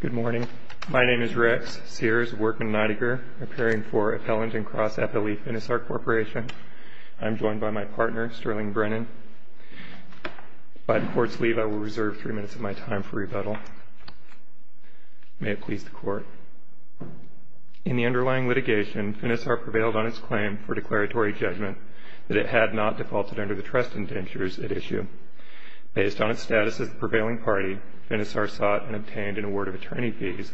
Good morning. My name is Rex Sears-Workman-Neidiger, appearing for Appellant and Cross FLE Finisar Corporation. I am joined by my partner, Sterling Brennan. Upon court's leave, I will reserve three minutes of my time for rebuttal. May it please the Court. In the underlying litigation, Finisar prevailed on its claim for declaratory judgment that it had not defaulted under the trust indentures at issue. Based on its status as the prevailing party, Finisar sought and obtained an award of attorney fees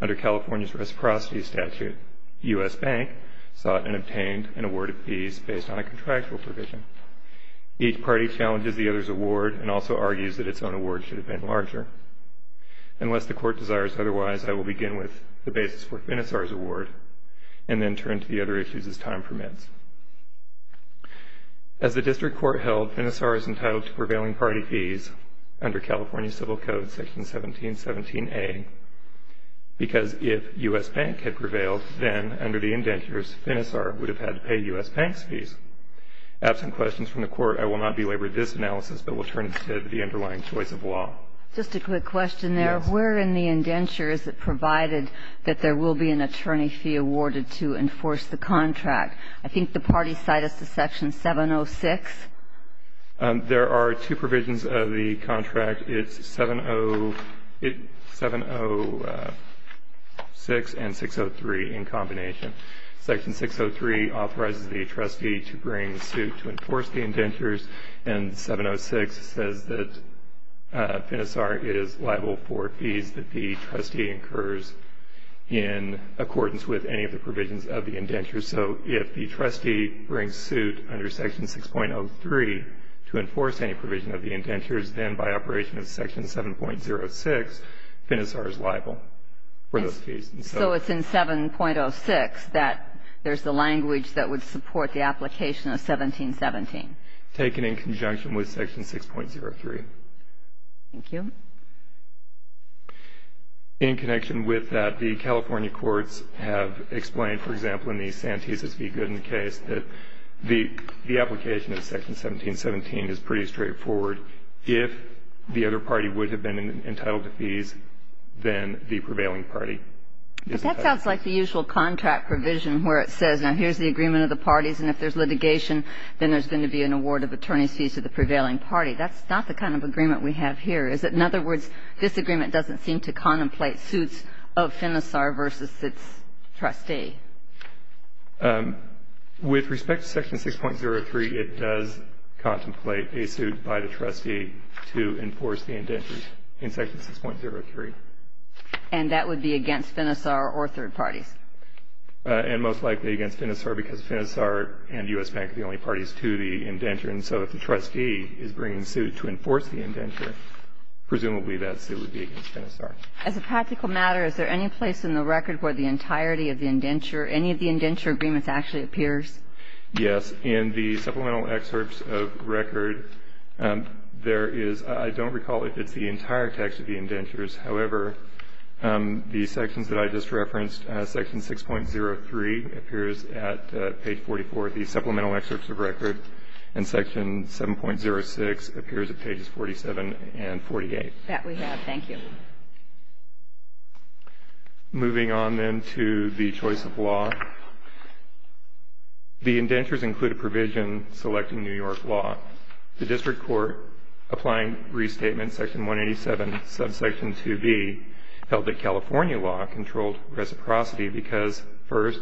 under California's reciprocity statute. U.S. Bank sought and obtained an award of fees based on a contractual provision. Each party challenges the other's award and also argues that its own award should have been larger. Unless the Court desires otherwise, I will begin with the basis for Finisar's award and then turn to the other issues as time permits. As the District Court held, Finisar is entitled to prevailing party fees under California Civil Code Section 1717A because if U.S. Bank had prevailed, then under the indentures, Finisar would have had to pay U.S. Bank's fees. Absent questions from the Court, I will not belabor this analysis, but will turn to the underlying choice of law. Just a quick question there. Yes. Where in the indentures is it provided that there will be an attorney fee awarded to enforce the contract? I think the party cited Section 706. There are two provisions of the contract. It's 706 and 603 in combination. Section 603 authorizes the trustee to bring suit to enforce the indentures, and 706 says that Finisar is liable for fees that the trustee incurs in accordance with any of the provisions of the indentures. So if the trustee brings suit under Section 6.03 to enforce any provision of the indentures, then by operation of Section 7.06, Finisar is liable for those fees. So it's in 7.06 that there's the language that would support the application of 1717. Taken in conjunction with Section 6.03. Thank you. In connection with that, the California courts have explained, for example, in the Santez v. Gooden case, that the application of Section 1717 is pretty straightforward. If the other party would have been entitled to fees, then the prevailing party is entitled. But that sounds like the usual contract provision where it says, now here's the agreement of the parties, and if there's litigation, then there's going to be an award of attorney's fees to the prevailing party. That's not the kind of agreement we have here. Is it, in other words, this agreement doesn't seem to contemplate suits of Finisar versus its trustee? With respect to Section 6.03, it does contemplate a suit by the trustee to enforce the indentures in Section 6.03. And that would be against Finisar or third parties? And most likely against Finisar because Finisar and U.S. Bank are the only parties to the indenture. And so if the trustee is bringing a suit to enforce the indenture, presumably that suit would be against Finisar. As a practical matter, is there any place in the record where the entirety of the indenture, any of the indenture agreements actually appears? Yes. In the supplemental excerpts of record, there is, I don't recall if it's the entire text of the indentures. However, the sections that I just referenced, Section 6.03 appears at page 44 of the supplemental excerpts of record, and Section 7.06 appears at pages 47 and 48. That we have. Thank you. Moving on then to the choice of law. The indentures include a provision selecting New York law. The district court, applying Restatement Section 187, held that California law controlled reciprocity because, first,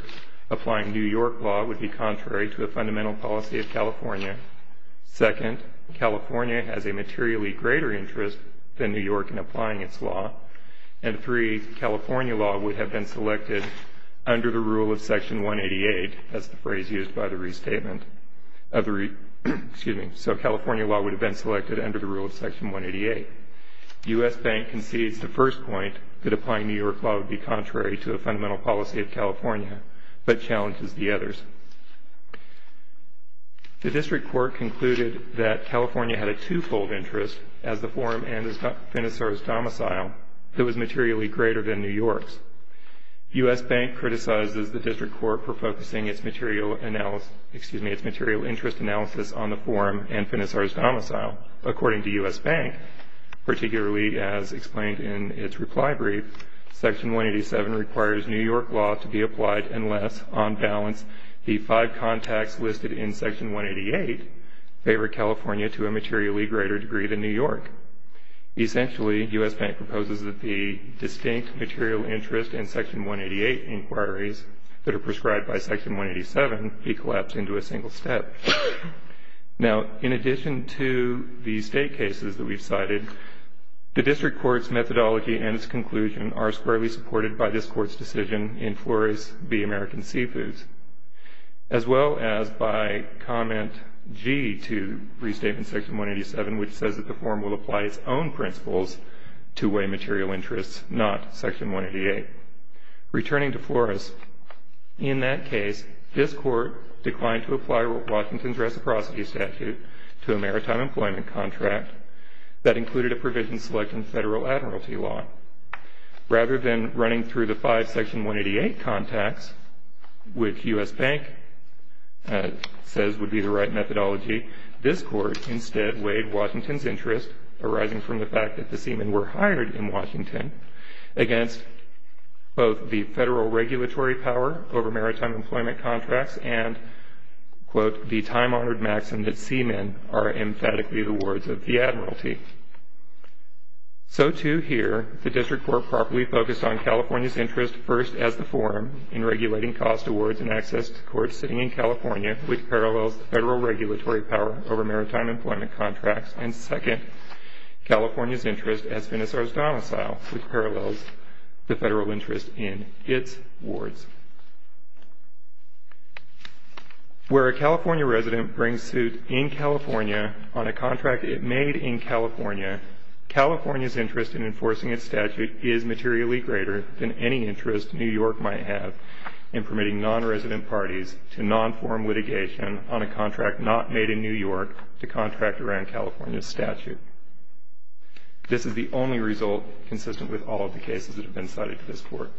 applying New York law would be contrary to the fundamental policy of California. Second, California has a materially greater interest than New York in applying its law. And three, California law would have been selected under the rule of Section 188. That's the phrase used by the restatement. Excuse me. So California law would have been selected under the rule of Section 188. U.S. Bank concedes the first point, that applying New York law would be contrary to the fundamental policy of California, but challenges the others. The district court concluded that California had a two-fold interest, as the forum and Finisar's domicile, that was materially greater than New York's. U.S. Bank criticizes the district court for focusing its material analysis, According to U.S. Bank, particularly as explained in its reply brief, Section 187 requires New York law to be applied unless, on balance, the five contacts listed in Section 188 favor California to a materially greater degree than New York. Essentially, U.S. Bank proposes that the distinct material interest in Section 188 inquiries that are prescribed by Section 187 be collapsed into a single step. Now, in addition to the state cases that we've cited, the district court's methodology and its conclusion are squarely supported by this court's decision in Flores v. American Seafoods, as well as by Comment G to Restatement Section 187, which says that the forum will apply its own principles to weigh material interests, not Section 188. Returning to Flores, in that case, this court declined to apply Washington's reciprocity statute to a maritime employment contract that included a provision selecting federal admiralty law. Rather than running through the five Section 188 contacts, which U.S. Bank says would be the right methodology, this court instead weighed Washington's interest, arising from the fact that the seamen were hired in Washington, against both the federal regulatory power over maritime employment contracts and, quote, the time-honored maxim that seamen are emphatically the words of the admiralty. So, too, here, the district court properly focused on California's interest, first, as the forum, in regulating cost awards and access to courts sitting in California, which parallels the federal regulatory power over maritime employment contracts, and, second, California's interest as Venezuela's domicile, which parallels the federal interest in its wards. Where a California resident brings suit in California on a contract it made in California, California's interest in enforcing its statute is materially greater than any interest New York might have in permitting non-resident parties to non-forum litigation on a contract not made in New York to contract around California's statute. This is the only result consistent with all of the cases that have been cited to this court.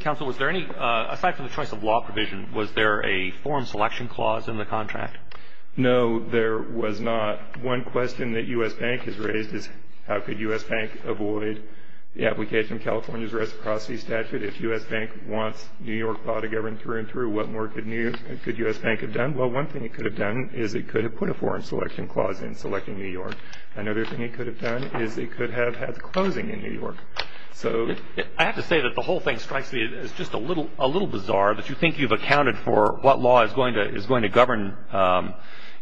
Counsel, was there any, aside from the choice of law provision, was there a forum selection clause in the contract? No, there was not. One question that U.S. Bank has raised is how could U.S. Bank avoid the application of California's reciprocity statute if U.S. Bank wants New York law to govern through and through? What more could U.S. Bank have done? Well, one thing it could have done is it could have put a forum selection clause in selecting New York. Another thing it could have done is it could have had closing in New York. I have to say that the whole thing strikes me as just a little bizarre that you think you've accounted for what law is going to govern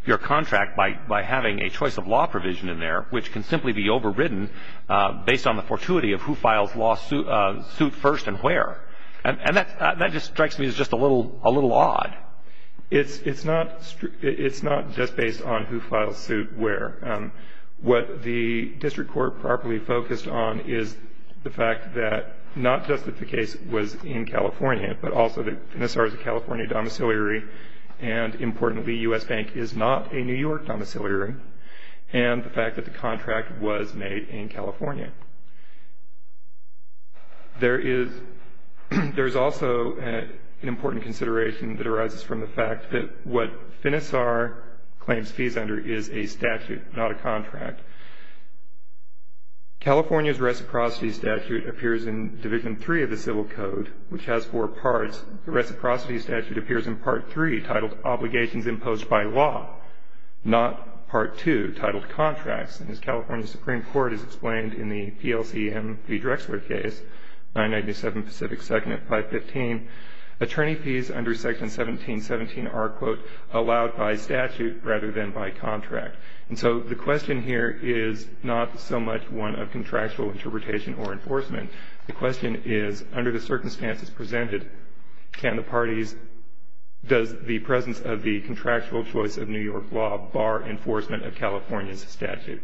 your contract by having a choice of law provision in there, which can simply be overridden based on the fortuity of who files suit first and where. And that just strikes me as just a little odd. It's not just based on who files suit where. What the district court properly focused on is the fact that not just that the case was in California, but also that Finisar is a California domiciliary, and importantly, U.S. Bank is not a New York domiciliary, and the fact that the contract was made in California. There is also an important consideration that arises from the fact that what Finisar claims fees under is a statute, not a contract. California's reciprocity statute appears in Division III of the Civil Code, which has four parts. The reciprocity statute appears in Part III, titled Obligations Imposed by Law, not Part II, titled Contracts. And as California Supreme Court has explained in the PLCM v. Drexler case, 997 Pacific 2nd at 515, attorney fees under Section 1717 are, quote, allowed by statute rather than by contract. And so the question here is not so much one of contractual interpretation or enforcement. The question is, under the circumstances presented, can the parties, does the presence of the contractual choice of New York law bar enforcement of California's statute?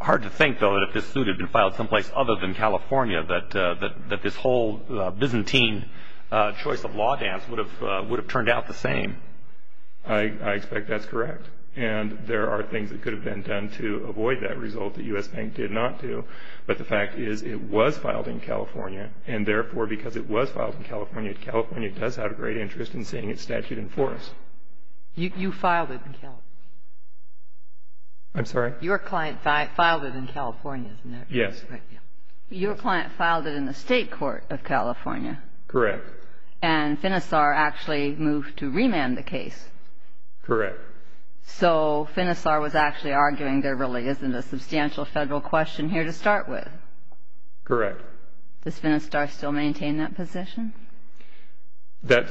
Hard to think, though, that if this suit had been filed someplace other than California, that this whole Byzantine choice of law dance would have turned out the same. I expect that's correct. And there are things that could have been done to avoid that result that U.S. Bank did not do. But the fact is, it was filed in California, and therefore, because it was filed in California, California does have a great interest in seeing its statute enforced. You filed it in California. I'm sorry? Your client filed it in California, isn't it? Yes. Your client filed it in the State Court of California. Correct. And Finisar actually moved to remand the case. Correct. So Finisar was actually arguing there really isn't a substantial federal question here to start with. Correct. Does Finisar still maintain that position? That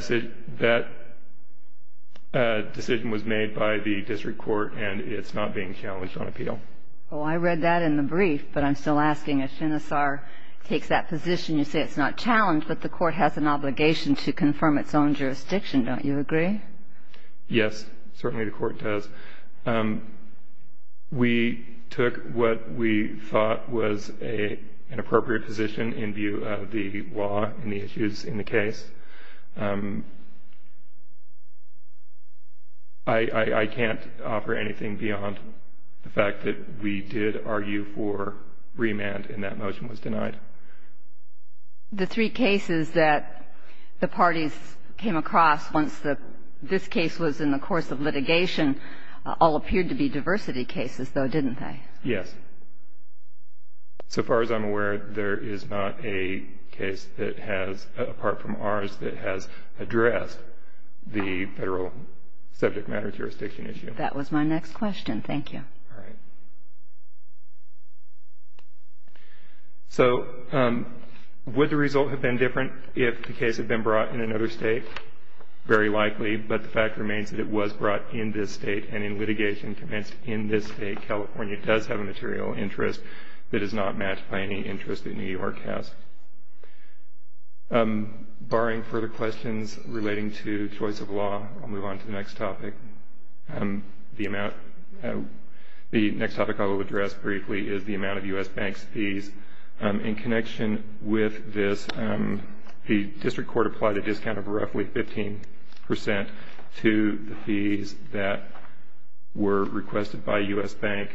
decision was made by the district court, and it's not being challenged on appeal. Oh, I read that in the brief, but I'm still asking. If Finisar takes that position, you say it's not challenged, but the court has an obligation to confirm its own jurisdiction, don't you agree? Yes, certainly the court does. We took what we thought was an appropriate position in view of the law and the issues in the case. I can't offer anything beyond the fact that we did argue for remand, and that motion was denied. The three cases that the parties came across once this case was in the course of litigation all appeared to be diversity cases, though, didn't they? Yes. So far as I'm aware, there is not a case that has, apart from ours, that has addressed the federal subject matter jurisdiction issue. Thank you. All right. So would the result have been different if the case had been brought in another state? Very likely, but the fact remains that it was brought in this state, and in litigation commenced in this state. California does have a material interest that is not matched by any interest that New York has. Barring further questions relating to choice of law, I'll move on to the next topic. The next topic I will address briefly is the amount of U.S. banks' fees. In connection with this, the district court applied a discount of roughly 15 percent to the fees that were requested by U.S. Bank.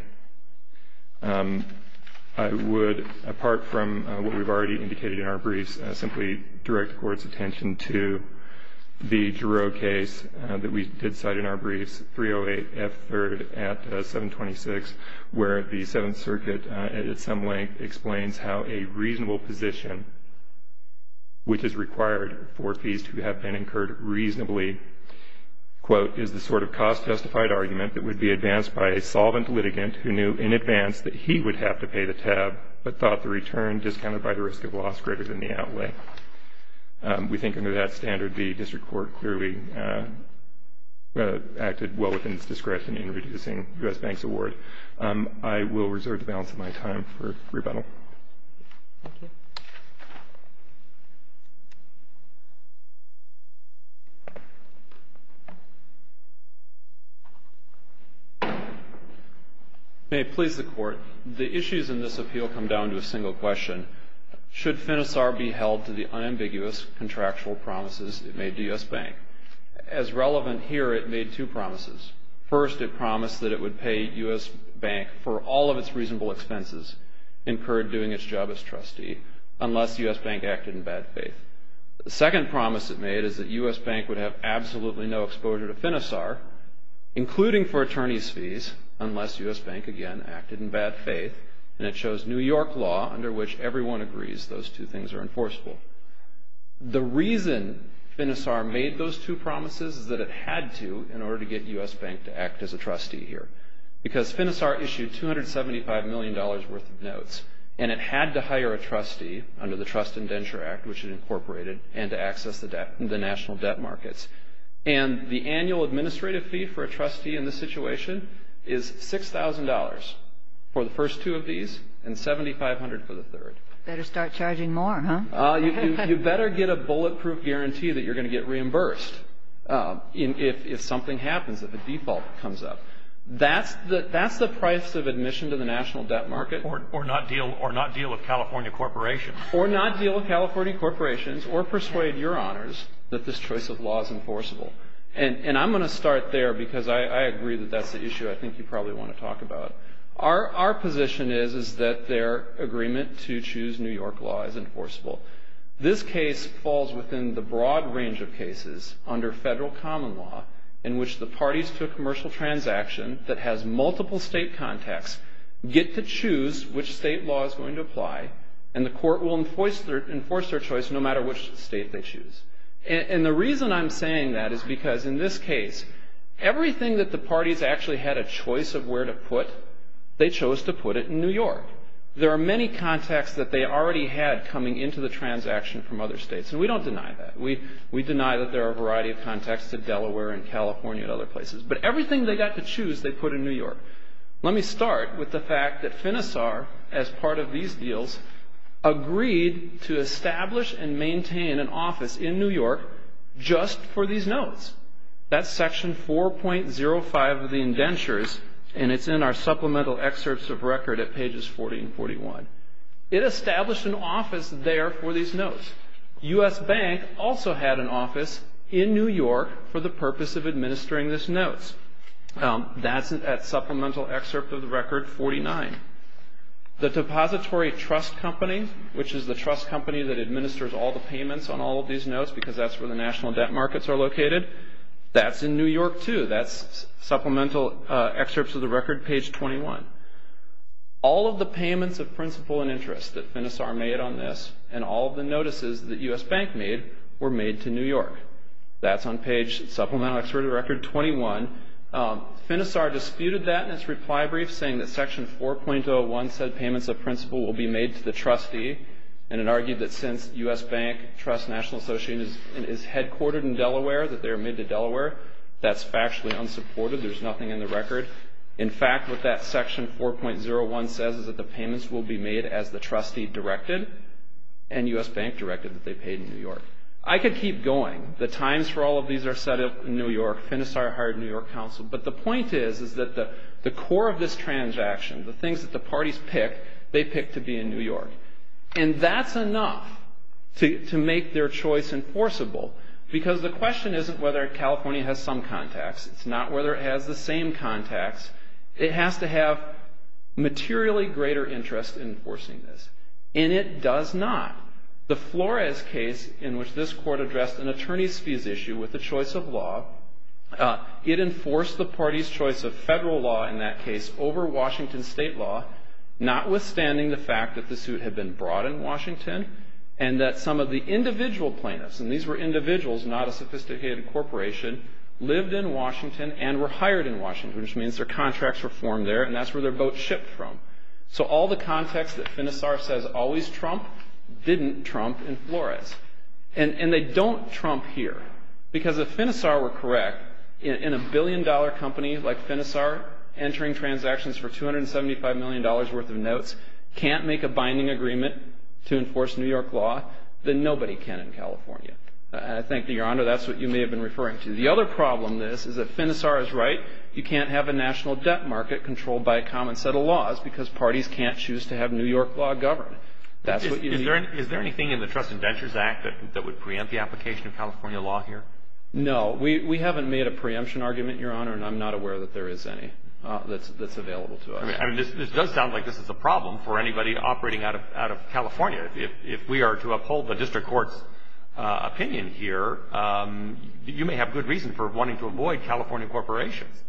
I would, apart from what we've already indicated in our briefs, simply direct the Court's attention to the Giroux case that we did cite in our briefs, 308F3rd at 726, where the Seventh Circuit, at some length, explains how a reasonable position, which is required for fees to have been incurred reasonably, is the sort of cost-justified argument that would be advanced by a solvent litigant who knew in advance that he would have to pay the tab, but thought the return discounted by the risk of loss greater than the outlay. We think under that standard, the district court clearly acted well within its discretion in reducing U.S. Bank's award. I will reserve the balance of my time for rebuttal. Thank you. May it please the Court, the issues in this appeal come down to a single question. Should FINISAR be held to the unambiguous contractual promises it made to U.S. Bank? As relevant here, it made two promises. First, it promised that it would pay U.S. Bank for all of its reasonable expenses incurred doing its job as trustee, unless U.S. Bank acted in bad faith. The second promise it made is that U.S. Bank would have absolutely no exposure to FINISAR, including for attorneys' fees, unless U.S. Bank, again, acted in bad faith, and it chose New York law under which everyone agrees those two things are enforceable. The reason FINISAR made those two promises is that it had to in order to get U.S. Bank to act as a trustee here, because FINISAR issued $275 million worth of notes, and it had to hire a trustee under the Trust Indenture Act, which it incorporated, and to access the national debt markets. And the annual administrative fee for a trustee in this situation is $6,000 for the first two of these and $7,500 for the third. Better start charging more, huh? You better get a bulletproof guarantee that you're going to get reimbursed if something happens, if a default comes up. That's the price of admission to the national debt market. Or not deal with California corporations. Or not deal with California corporations or persuade your honors that this choice of law is enforceable. And I'm going to start there, because I agree that that's the issue I think you probably want to talk about. Our position is that their agreement to choose New York law is enforceable. This case falls within the broad range of cases under federal common law in which the parties to a commercial transaction that has multiple state contacts get to choose which state law is going to apply, and the court will enforce their choice no matter which state they choose. And the reason I'm saying that is because in this case, everything that the parties actually had a choice of where to put, they chose to put it in New York. There are many contacts that they already had coming into the transaction from other states, and we don't deny that. We deny that there are a variety of contacts to Delaware and California and other places. But everything they got to choose, they put in New York. Let me start with the fact that FINISAR, as part of these deals, agreed to establish and maintain an office in New York just for these notes. That's section 4.05 of the indentures, and it's in our supplemental excerpts of record at pages 40 and 41. It established an office there for these notes. U.S. Bank also had an office in New York for the purpose of administering this notes. That's at supplemental excerpt of the record 49. The Depository Trust Company, which is the trust company that administers all the payments on all of these notes because that's where the national debt markets are located, that's in New York too. That's supplemental excerpts of the record, page 21. All of the payments of principal and interest that FINISAR made on this and all of the notices that U.S. Bank made were made to New York. That's on page supplemental excerpt of the record 21. FINISAR disputed that in its reply brief, saying that section 4.01 said payments of principal will be made to the trustee, and it argued that since U.S. Bank Trust National Association is headquartered in Delaware, that they are made to Delaware, that's factually unsupported. There's nothing in the record. In fact, what that section 4.01 says is that the payments will be made as the trustee directed and U.S. Bank directed that they paid in New York. I could keep going. The times for all of these are set up in New York. FINISAR hired a New York counsel. But the point is is that the core of this transaction, the things that the parties pick, they pick to be in New York. And that's enough to make their choice enforceable because the question isn't whether California has some contacts. It's not whether it has the same contacts. It has to have materially greater interest in enforcing this, and it does not. The Flores case in which this court addressed an attorney's fees issue with the choice of law, it enforced the party's choice of federal law in that case over Washington state law, notwithstanding the fact that the suit had been brought in Washington and that some of the individual plaintiffs, and these were individuals, not a sophisticated corporation, lived in Washington and were hired in Washington, which means their contracts were formed there, and that's where their boat shipped from. So all the contacts that FINISAR says always trump didn't trump in Flores. And they don't trump here. Because if FINISAR were correct, in a billion-dollar company like FINISAR, entering transactions for $275 million worth of notes, can't make a binding agreement to enforce New York law, then nobody can in California. And I thank you, Your Honor. That's what you may have been referring to. The other problem, this, is that FINISAR is right. You can't have a national debt market controlled by a common set of laws because parties can't choose to have New York law govern. That's what you need. Is there anything in the Trusts and Ventures Act that would preempt the application of California law here? No. We haven't made a preemption argument, Your Honor, and I'm not aware that there is any that's available to us. I mean, this does sound like this is a problem for anybody operating out of California. If we are to uphold the district court's opinion here, you may have good reason for wanting to avoid California corporations.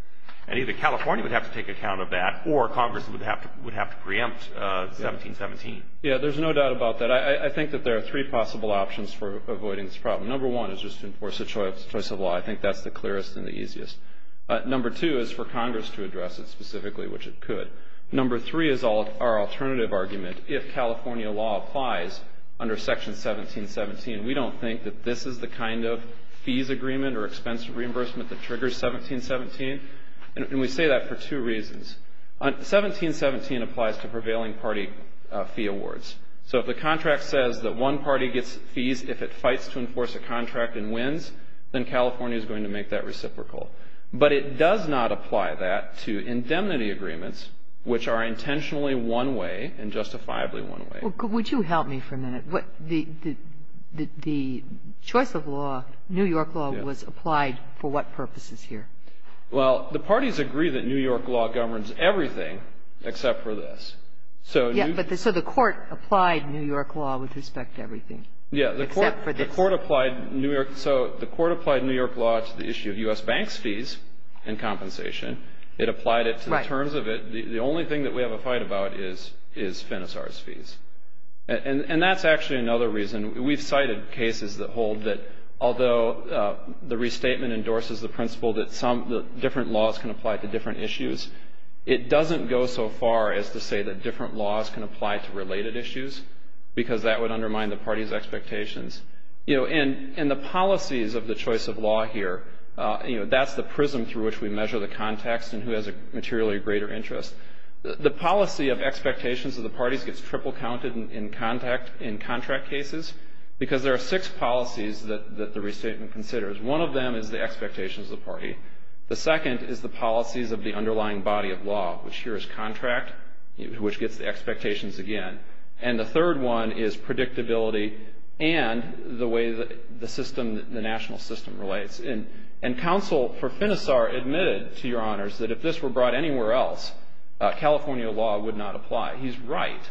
And either California would have to take account of that, or Congress would have to preempt 1717. Yeah, there's no doubt about that. I think that there are three possible options for avoiding this problem. Number one is just to enforce a choice of law. I think that's the clearest and the easiest. Number two is for Congress to address it specifically, which it could. Number three is our alternative argument. If California law applies under Section 1717, we don't think that this is the kind of fees agreement or expensive reimbursement that triggers 1717. And we say that for two reasons. 1717 applies to prevailing party fee awards. So if the contract says that one party gets fees if it fights to enforce a contract and wins, then California is going to make that reciprocal. But it does not apply that to indemnity agreements, which are intentionally one way and justifiably one way. Would you help me for a minute? The choice of law, New York law, was applied for what purposes here? Well, the parties agree that New York law governs everything except for this. So the court applied New York law with respect to everything except for this. Yeah, the court applied New York law to the issue of U.S. banks' fees and compensation. It applied it to the terms of it. The only thing that we have a fight about is Finisar's fees. And that's actually another reason. We've cited cases that hold that although the restatement endorses the principle that different laws can apply to different issues, it doesn't go so far as to say that different laws can apply to related issues, because that would undermine the party's expectations. And the policies of the choice of law here, that's the prism through which we measure the context and who has a materially greater interest. The policy of expectations of the parties gets triple counted in contract cases because there are six policies that the restatement considers. One of them is the expectations of the party. The second is the policies of the underlying body of law, which here is contract, which gets the expectations again. And the third one is predictability and the way the system, the national system relates. And counsel for Finisar admitted to Your Honors that if this were brought anywhere else, California law would not apply. He's right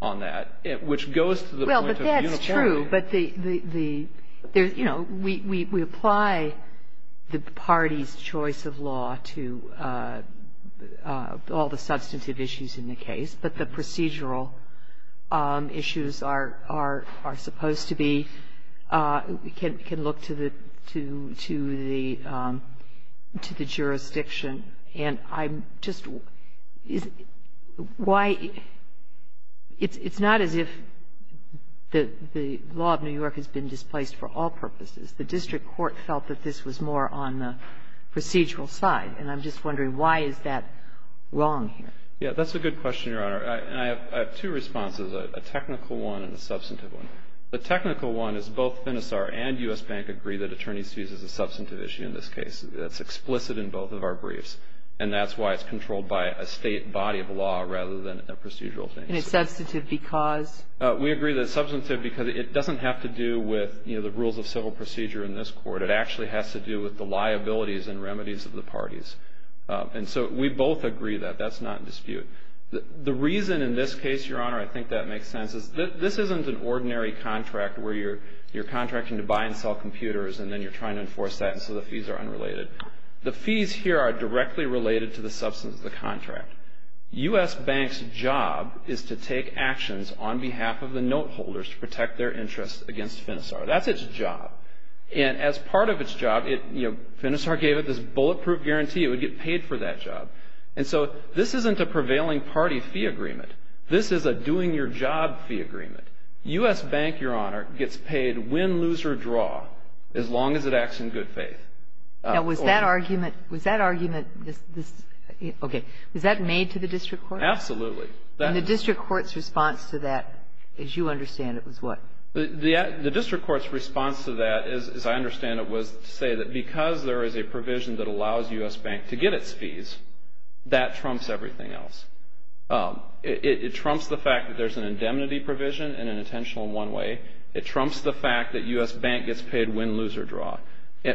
on that, which goes to the point of the unilateral. Well, but that's true. But the, you know, we apply the party's choice of law to all the substantive issues in the case, but the procedural issues are supposed to be, can look to the jurisdiction. And I'm just, why, it's not as if the law of New York has been displaced for all purposes. The district court felt that this was more on the procedural side. And I'm just wondering why is that wrong here? Yeah, that's a good question, Your Honor. And I have two responses, a technical one and a substantive one. The technical one is both Finisar and U.S. Bank agree that attorney's fees is a substantive issue in this case. That's explicit in both of our briefs. And that's why it's controlled by a state body of law rather than a procedural thing. And it's substantive because? We agree that it's substantive because it doesn't have to do with, you know, the rules of civil procedure in this court. It actually has to do with the liabilities and remedies of the parties. And so we both agree that. That's not in dispute. The reason in this case, Your Honor, I think that makes sense, is that this isn't an ordinary contract where you're contracting to buy and sell computers and then you're trying to enforce that and so the fees are unrelated. The fees here are directly related to the substance of the contract. U.S. Bank's job is to take actions on behalf of the note holders to protect their interests against Finisar. That's its job. And as part of its job, you know, Finisar gave it this bulletproof guarantee it would get paid for that job. And so this isn't a prevailing party fee agreement. This is a doing your job fee agreement. U.S. Bank, Your Honor, gets paid win, lose, or draw as long as it acts in good faith. Now, was that argument, was that argument, okay, was that made to the district court? Absolutely. And the district court's response to that, as you understand it, was what? The district court's response to that, as I understand it, was to say that because there is a provision that allows U.S. Bank to get its fees, that trumps everything else. It trumps the fact that there's an indemnity provision and an intentional one way. It trumps the fact that U.S. Bank gets paid win, lose, or draw.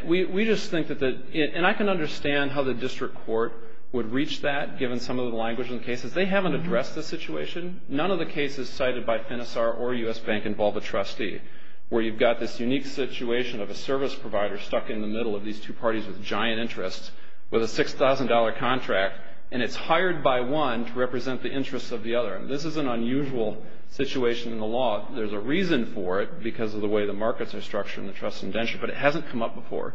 We just think that the, and I can understand how the district court would reach that, given some of the language in the cases. They haven't addressed the situation. None of the cases cited by Finisar or U.S. Bank involve a trustee where you've got this unique situation of a service provider stuck in the middle of these two parties with giant interests with a $6,000 contract, and it's hired by one to represent the interests of the other. This is an unusual situation in the law. There's a reason for it because of the way the markets are structured and the trust indenture, but it hasn't come up before.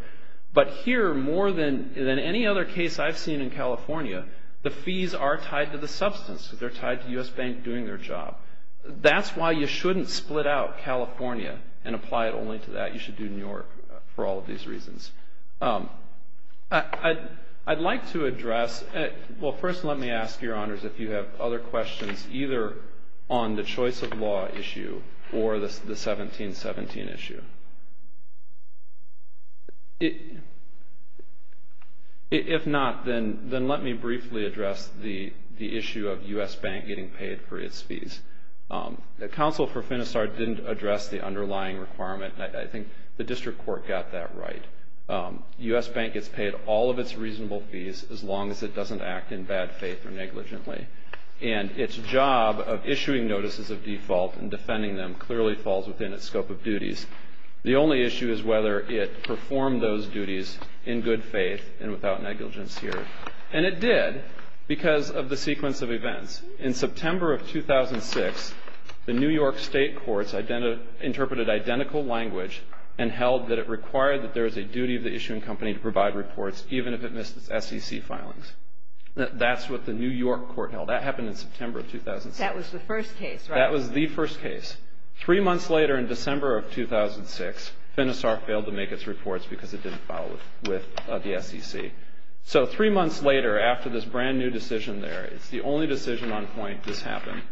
But here, more than any other case I've seen in California, the fees are tied to the substance. They're tied to U.S. Bank doing their job. That's why you shouldn't split out California and apply it only to that. You should do New York for all of these reasons. I'd like to address, well, first let me ask your honors if you have other questions, either on the choice of law issue or the 1717 issue. If not, then let me briefly address the issue of U.S. Bank getting paid for its fees. The counsel for Finisar didn't address the underlying requirement, and I think the district court got that right. U.S. Bank gets paid all of its reasonable fees as long as it doesn't act in bad faith or negligently, and its job of issuing notices of default and defending them clearly falls within its scope of duties. The only issue is whether it performed those duties in good faith and without negligence here. And it did because of the sequence of events. In September of 2006, the New York state courts interpreted identical language and held that it required that there is a duty of the issuing company to provide reports, even if it missed its SEC filings. That's what the New York court held. That happened in September of 2006. That was the first case, right? That was the first case. Three months later, in December of 2006, Finisar failed to make its reports because it didn't file with the SEC. So three months later, after this brand-new decision there, it's the only decision on point this happened.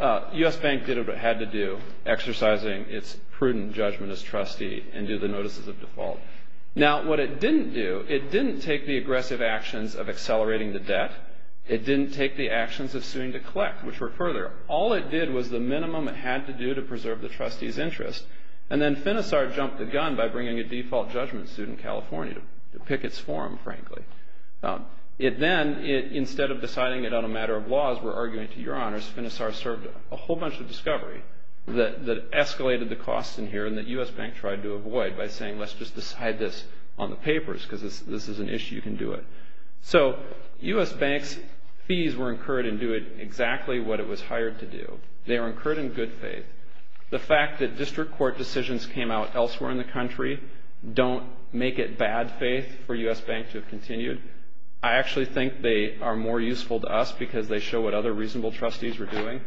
U.S. Bank did what it had to do, exercising its prudent judgment as trustee and do the notices of default. Now, what it didn't do, it didn't take the aggressive actions of accelerating the debt. It didn't take the actions of suing to collect, which were further. All it did was the minimum it had to do to preserve the trustee's interest. And then Finisar jumped the gun by bringing a default judgment suit in California to pick its form, frankly. It then, instead of deciding it on a matter of laws, were arguing to your honors, Finisar served a whole bunch of discovery that escalated the costs in here and that U.S. Bank tried to avoid by saying, let's just decide this on the papers because this is an issue, you can do it. So U.S. Bank's fees were incurred in doing exactly what it was hired to do. They were incurred in good faith. The fact that district court decisions came out elsewhere in the country don't make it bad faith for U.S. Bank to have continued. I actually think they are more useful to us because they show what other reasonable trustees were doing.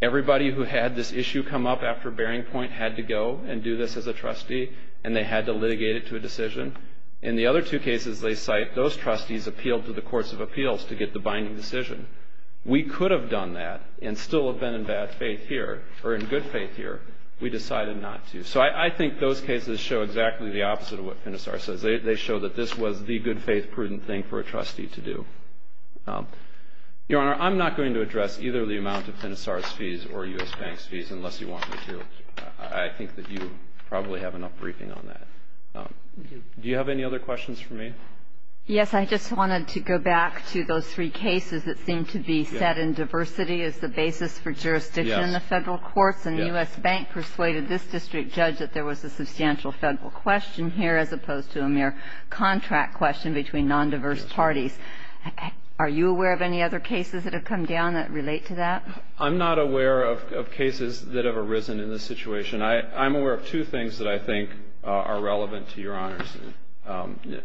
Everybody who had this issue come up after Bearing Point had to go and do this as a trustee and they had to litigate it to a decision. In the other two cases they cite, those trustees appealed to the courts of appeals to get the binding decision. We could have done that and still have been in bad faith here or in good faith here. We decided not to. So I think those cases show exactly the opposite of what Finisar says. They show that this was the good faith prudent thing for a trustee to do. Your Honor, I'm not going to address either the amount of Finisar's fees or U.S. Bank's fees unless you want me to. I think that you probably have enough briefing on that. Do you have any other questions for me? Yes, I just wanted to go back to those three cases that seem to be set in diversity as the basis for jurisdiction in the federal courts. And U.S. Bank persuaded this district judge that there was a substantial federal question here as opposed to a mere contract question between nondiverse parties. Are you aware of any other cases that have come down that relate to that? I'm not aware of cases that have arisen in this situation. I'm aware of two things that I think are relevant to your honors.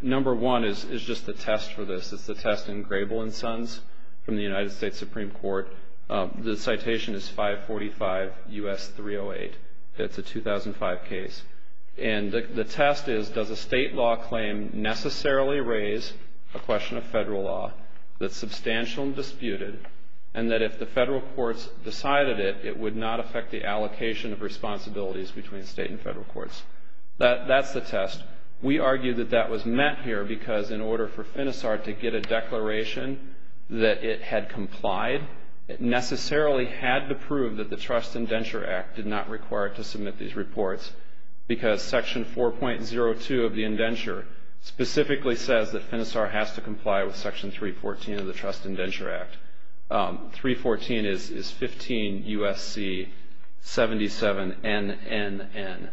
Number one is just the test for this. It's the test in Grable and Sons from the United States Supreme Court. The citation is 545 U.S. 308. It's a 2005 case. And the test is does a state law claim necessarily raise a question of federal law that's substantial and disputed and that if the federal courts decided it, it would not affect the allocation of responsibilities between state and federal courts. That's the test. We argue that that was met here because in order for FINISAR to get a declaration that it had complied, it necessarily had to prove that the Trust Indenture Act did not require it to submit these reports because Section 4.02 of the indenture specifically says that FINISAR has to comply with Section 314 of the Trust Indenture Act. 314 is 15 U.S.C. 77 NNN,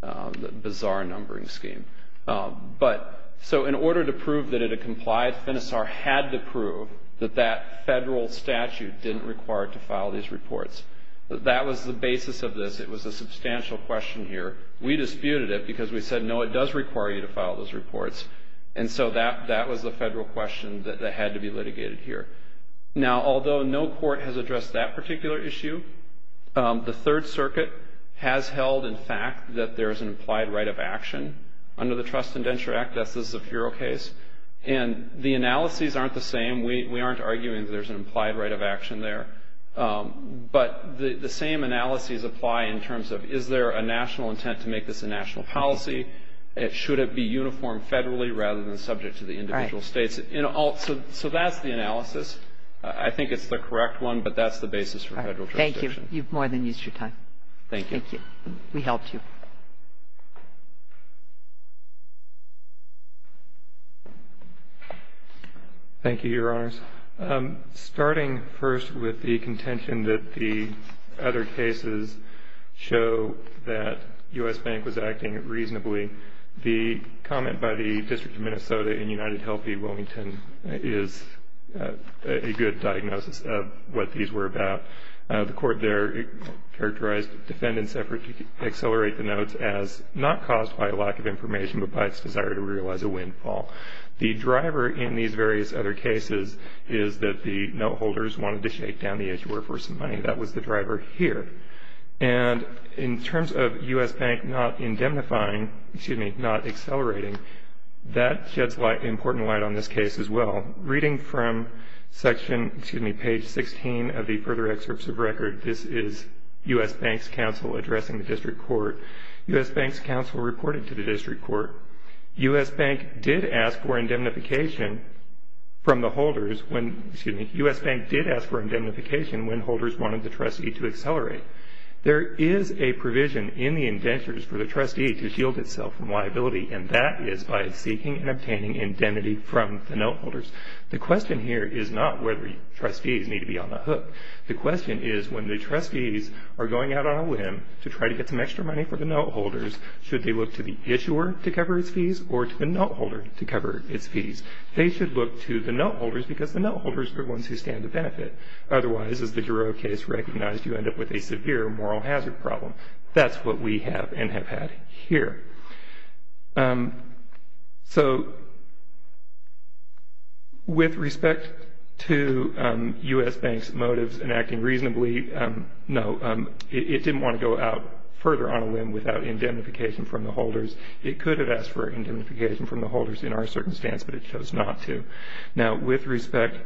the bizarre numbering scheme. So in order to prove that it had complied, FINISAR had to prove that that federal statute didn't require it to file these reports. That was the basis of this. It was a substantial question here. We disputed it because we said, no, it does require you to file those reports. And so that was the federal question that had to be litigated here. Now, although no court has addressed that particular issue, the Third Circuit has held, in fact, that there is an implied right of action under the Trust Indenture Act. That's the Zafiro case. And the analyses aren't the same. We aren't arguing that there's an implied right of action there. But the same analyses apply in terms of is there a national intent to make this a national policy? Should it be uniformed federally rather than subject to the individual states? So that's the analysis. I think it's the correct one, but that's the basis for federal jurisdiction. Thank you. You've more than used your time. Thank you. Thank you. We helped you. Thank you, Your Honors. Starting first with the contention that the other cases show that U.S. Bank was acting reasonably, the comment by the District of Minnesota in United Healthy Wilmington is a good diagnosis of what these were about. The court there characterized the defendant's effort to accelerate the notes as not caused by a lack of information but by its desire to realize a windfall. The driver in these various other cases is that the note holders wanted to shake down the issue of workforce and money. That was the driver here. And in terms of U.S. Bank not indemnifying, excuse me, not accelerating, that sheds important light on this case as well. Reading from section, excuse me, page 16 of the further excerpts of record, this is U.S. Bank's counsel addressing the district court. U.S. Bank's counsel reported to the district court. U.S. Bank did ask for indemnification from the holders when, excuse me, U.S. Bank did ask for indemnification when holders wanted the trustee to accelerate. There is a provision in the indentures for the trustee to shield itself from liability, and that is by seeking and obtaining indemnity from the note holders. The question here is not whether trustees need to be on the hook. The question is when the trustees are going out on a whim to try to get some extra money for the note holders, should they look to the issuer to cover its fees or to the note holder to cover its fees? They should look to the note holders because the note holders are the ones who stand to benefit. Otherwise, as the Giroux case recognized, you end up with a severe moral hazard problem. That's what we have and have had here. So with respect to U.S. Bank's motives in acting reasonably, no, it didn't want to go out further on a whim without indemnification from the holders. It could have asked for indemnification from the holders in our circumstance, but it chose not to. Now, with respect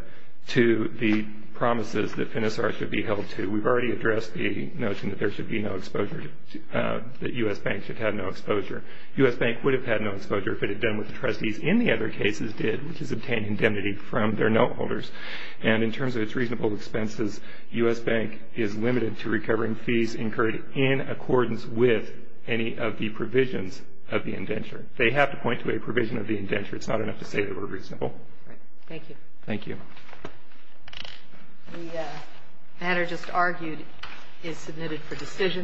to the promises that FINIS-R should be held to, we've already addressed the notion that there should be no exposure, that U.S. Bank should have no exposure. U.S. Bank would have had no exposure if it had done what the trustees in the other cases did, which is obtain indemnity from their note holders. And in terms of its reasonable expenses, U.S. Bank is limited to recovering fees incurred in accordance with any of the provisions of the indenture. They have to point to a provision of the indenture. It's not enough to say that we're reasonable. Thank you. Thank you. The matter just argued is submitted for decision.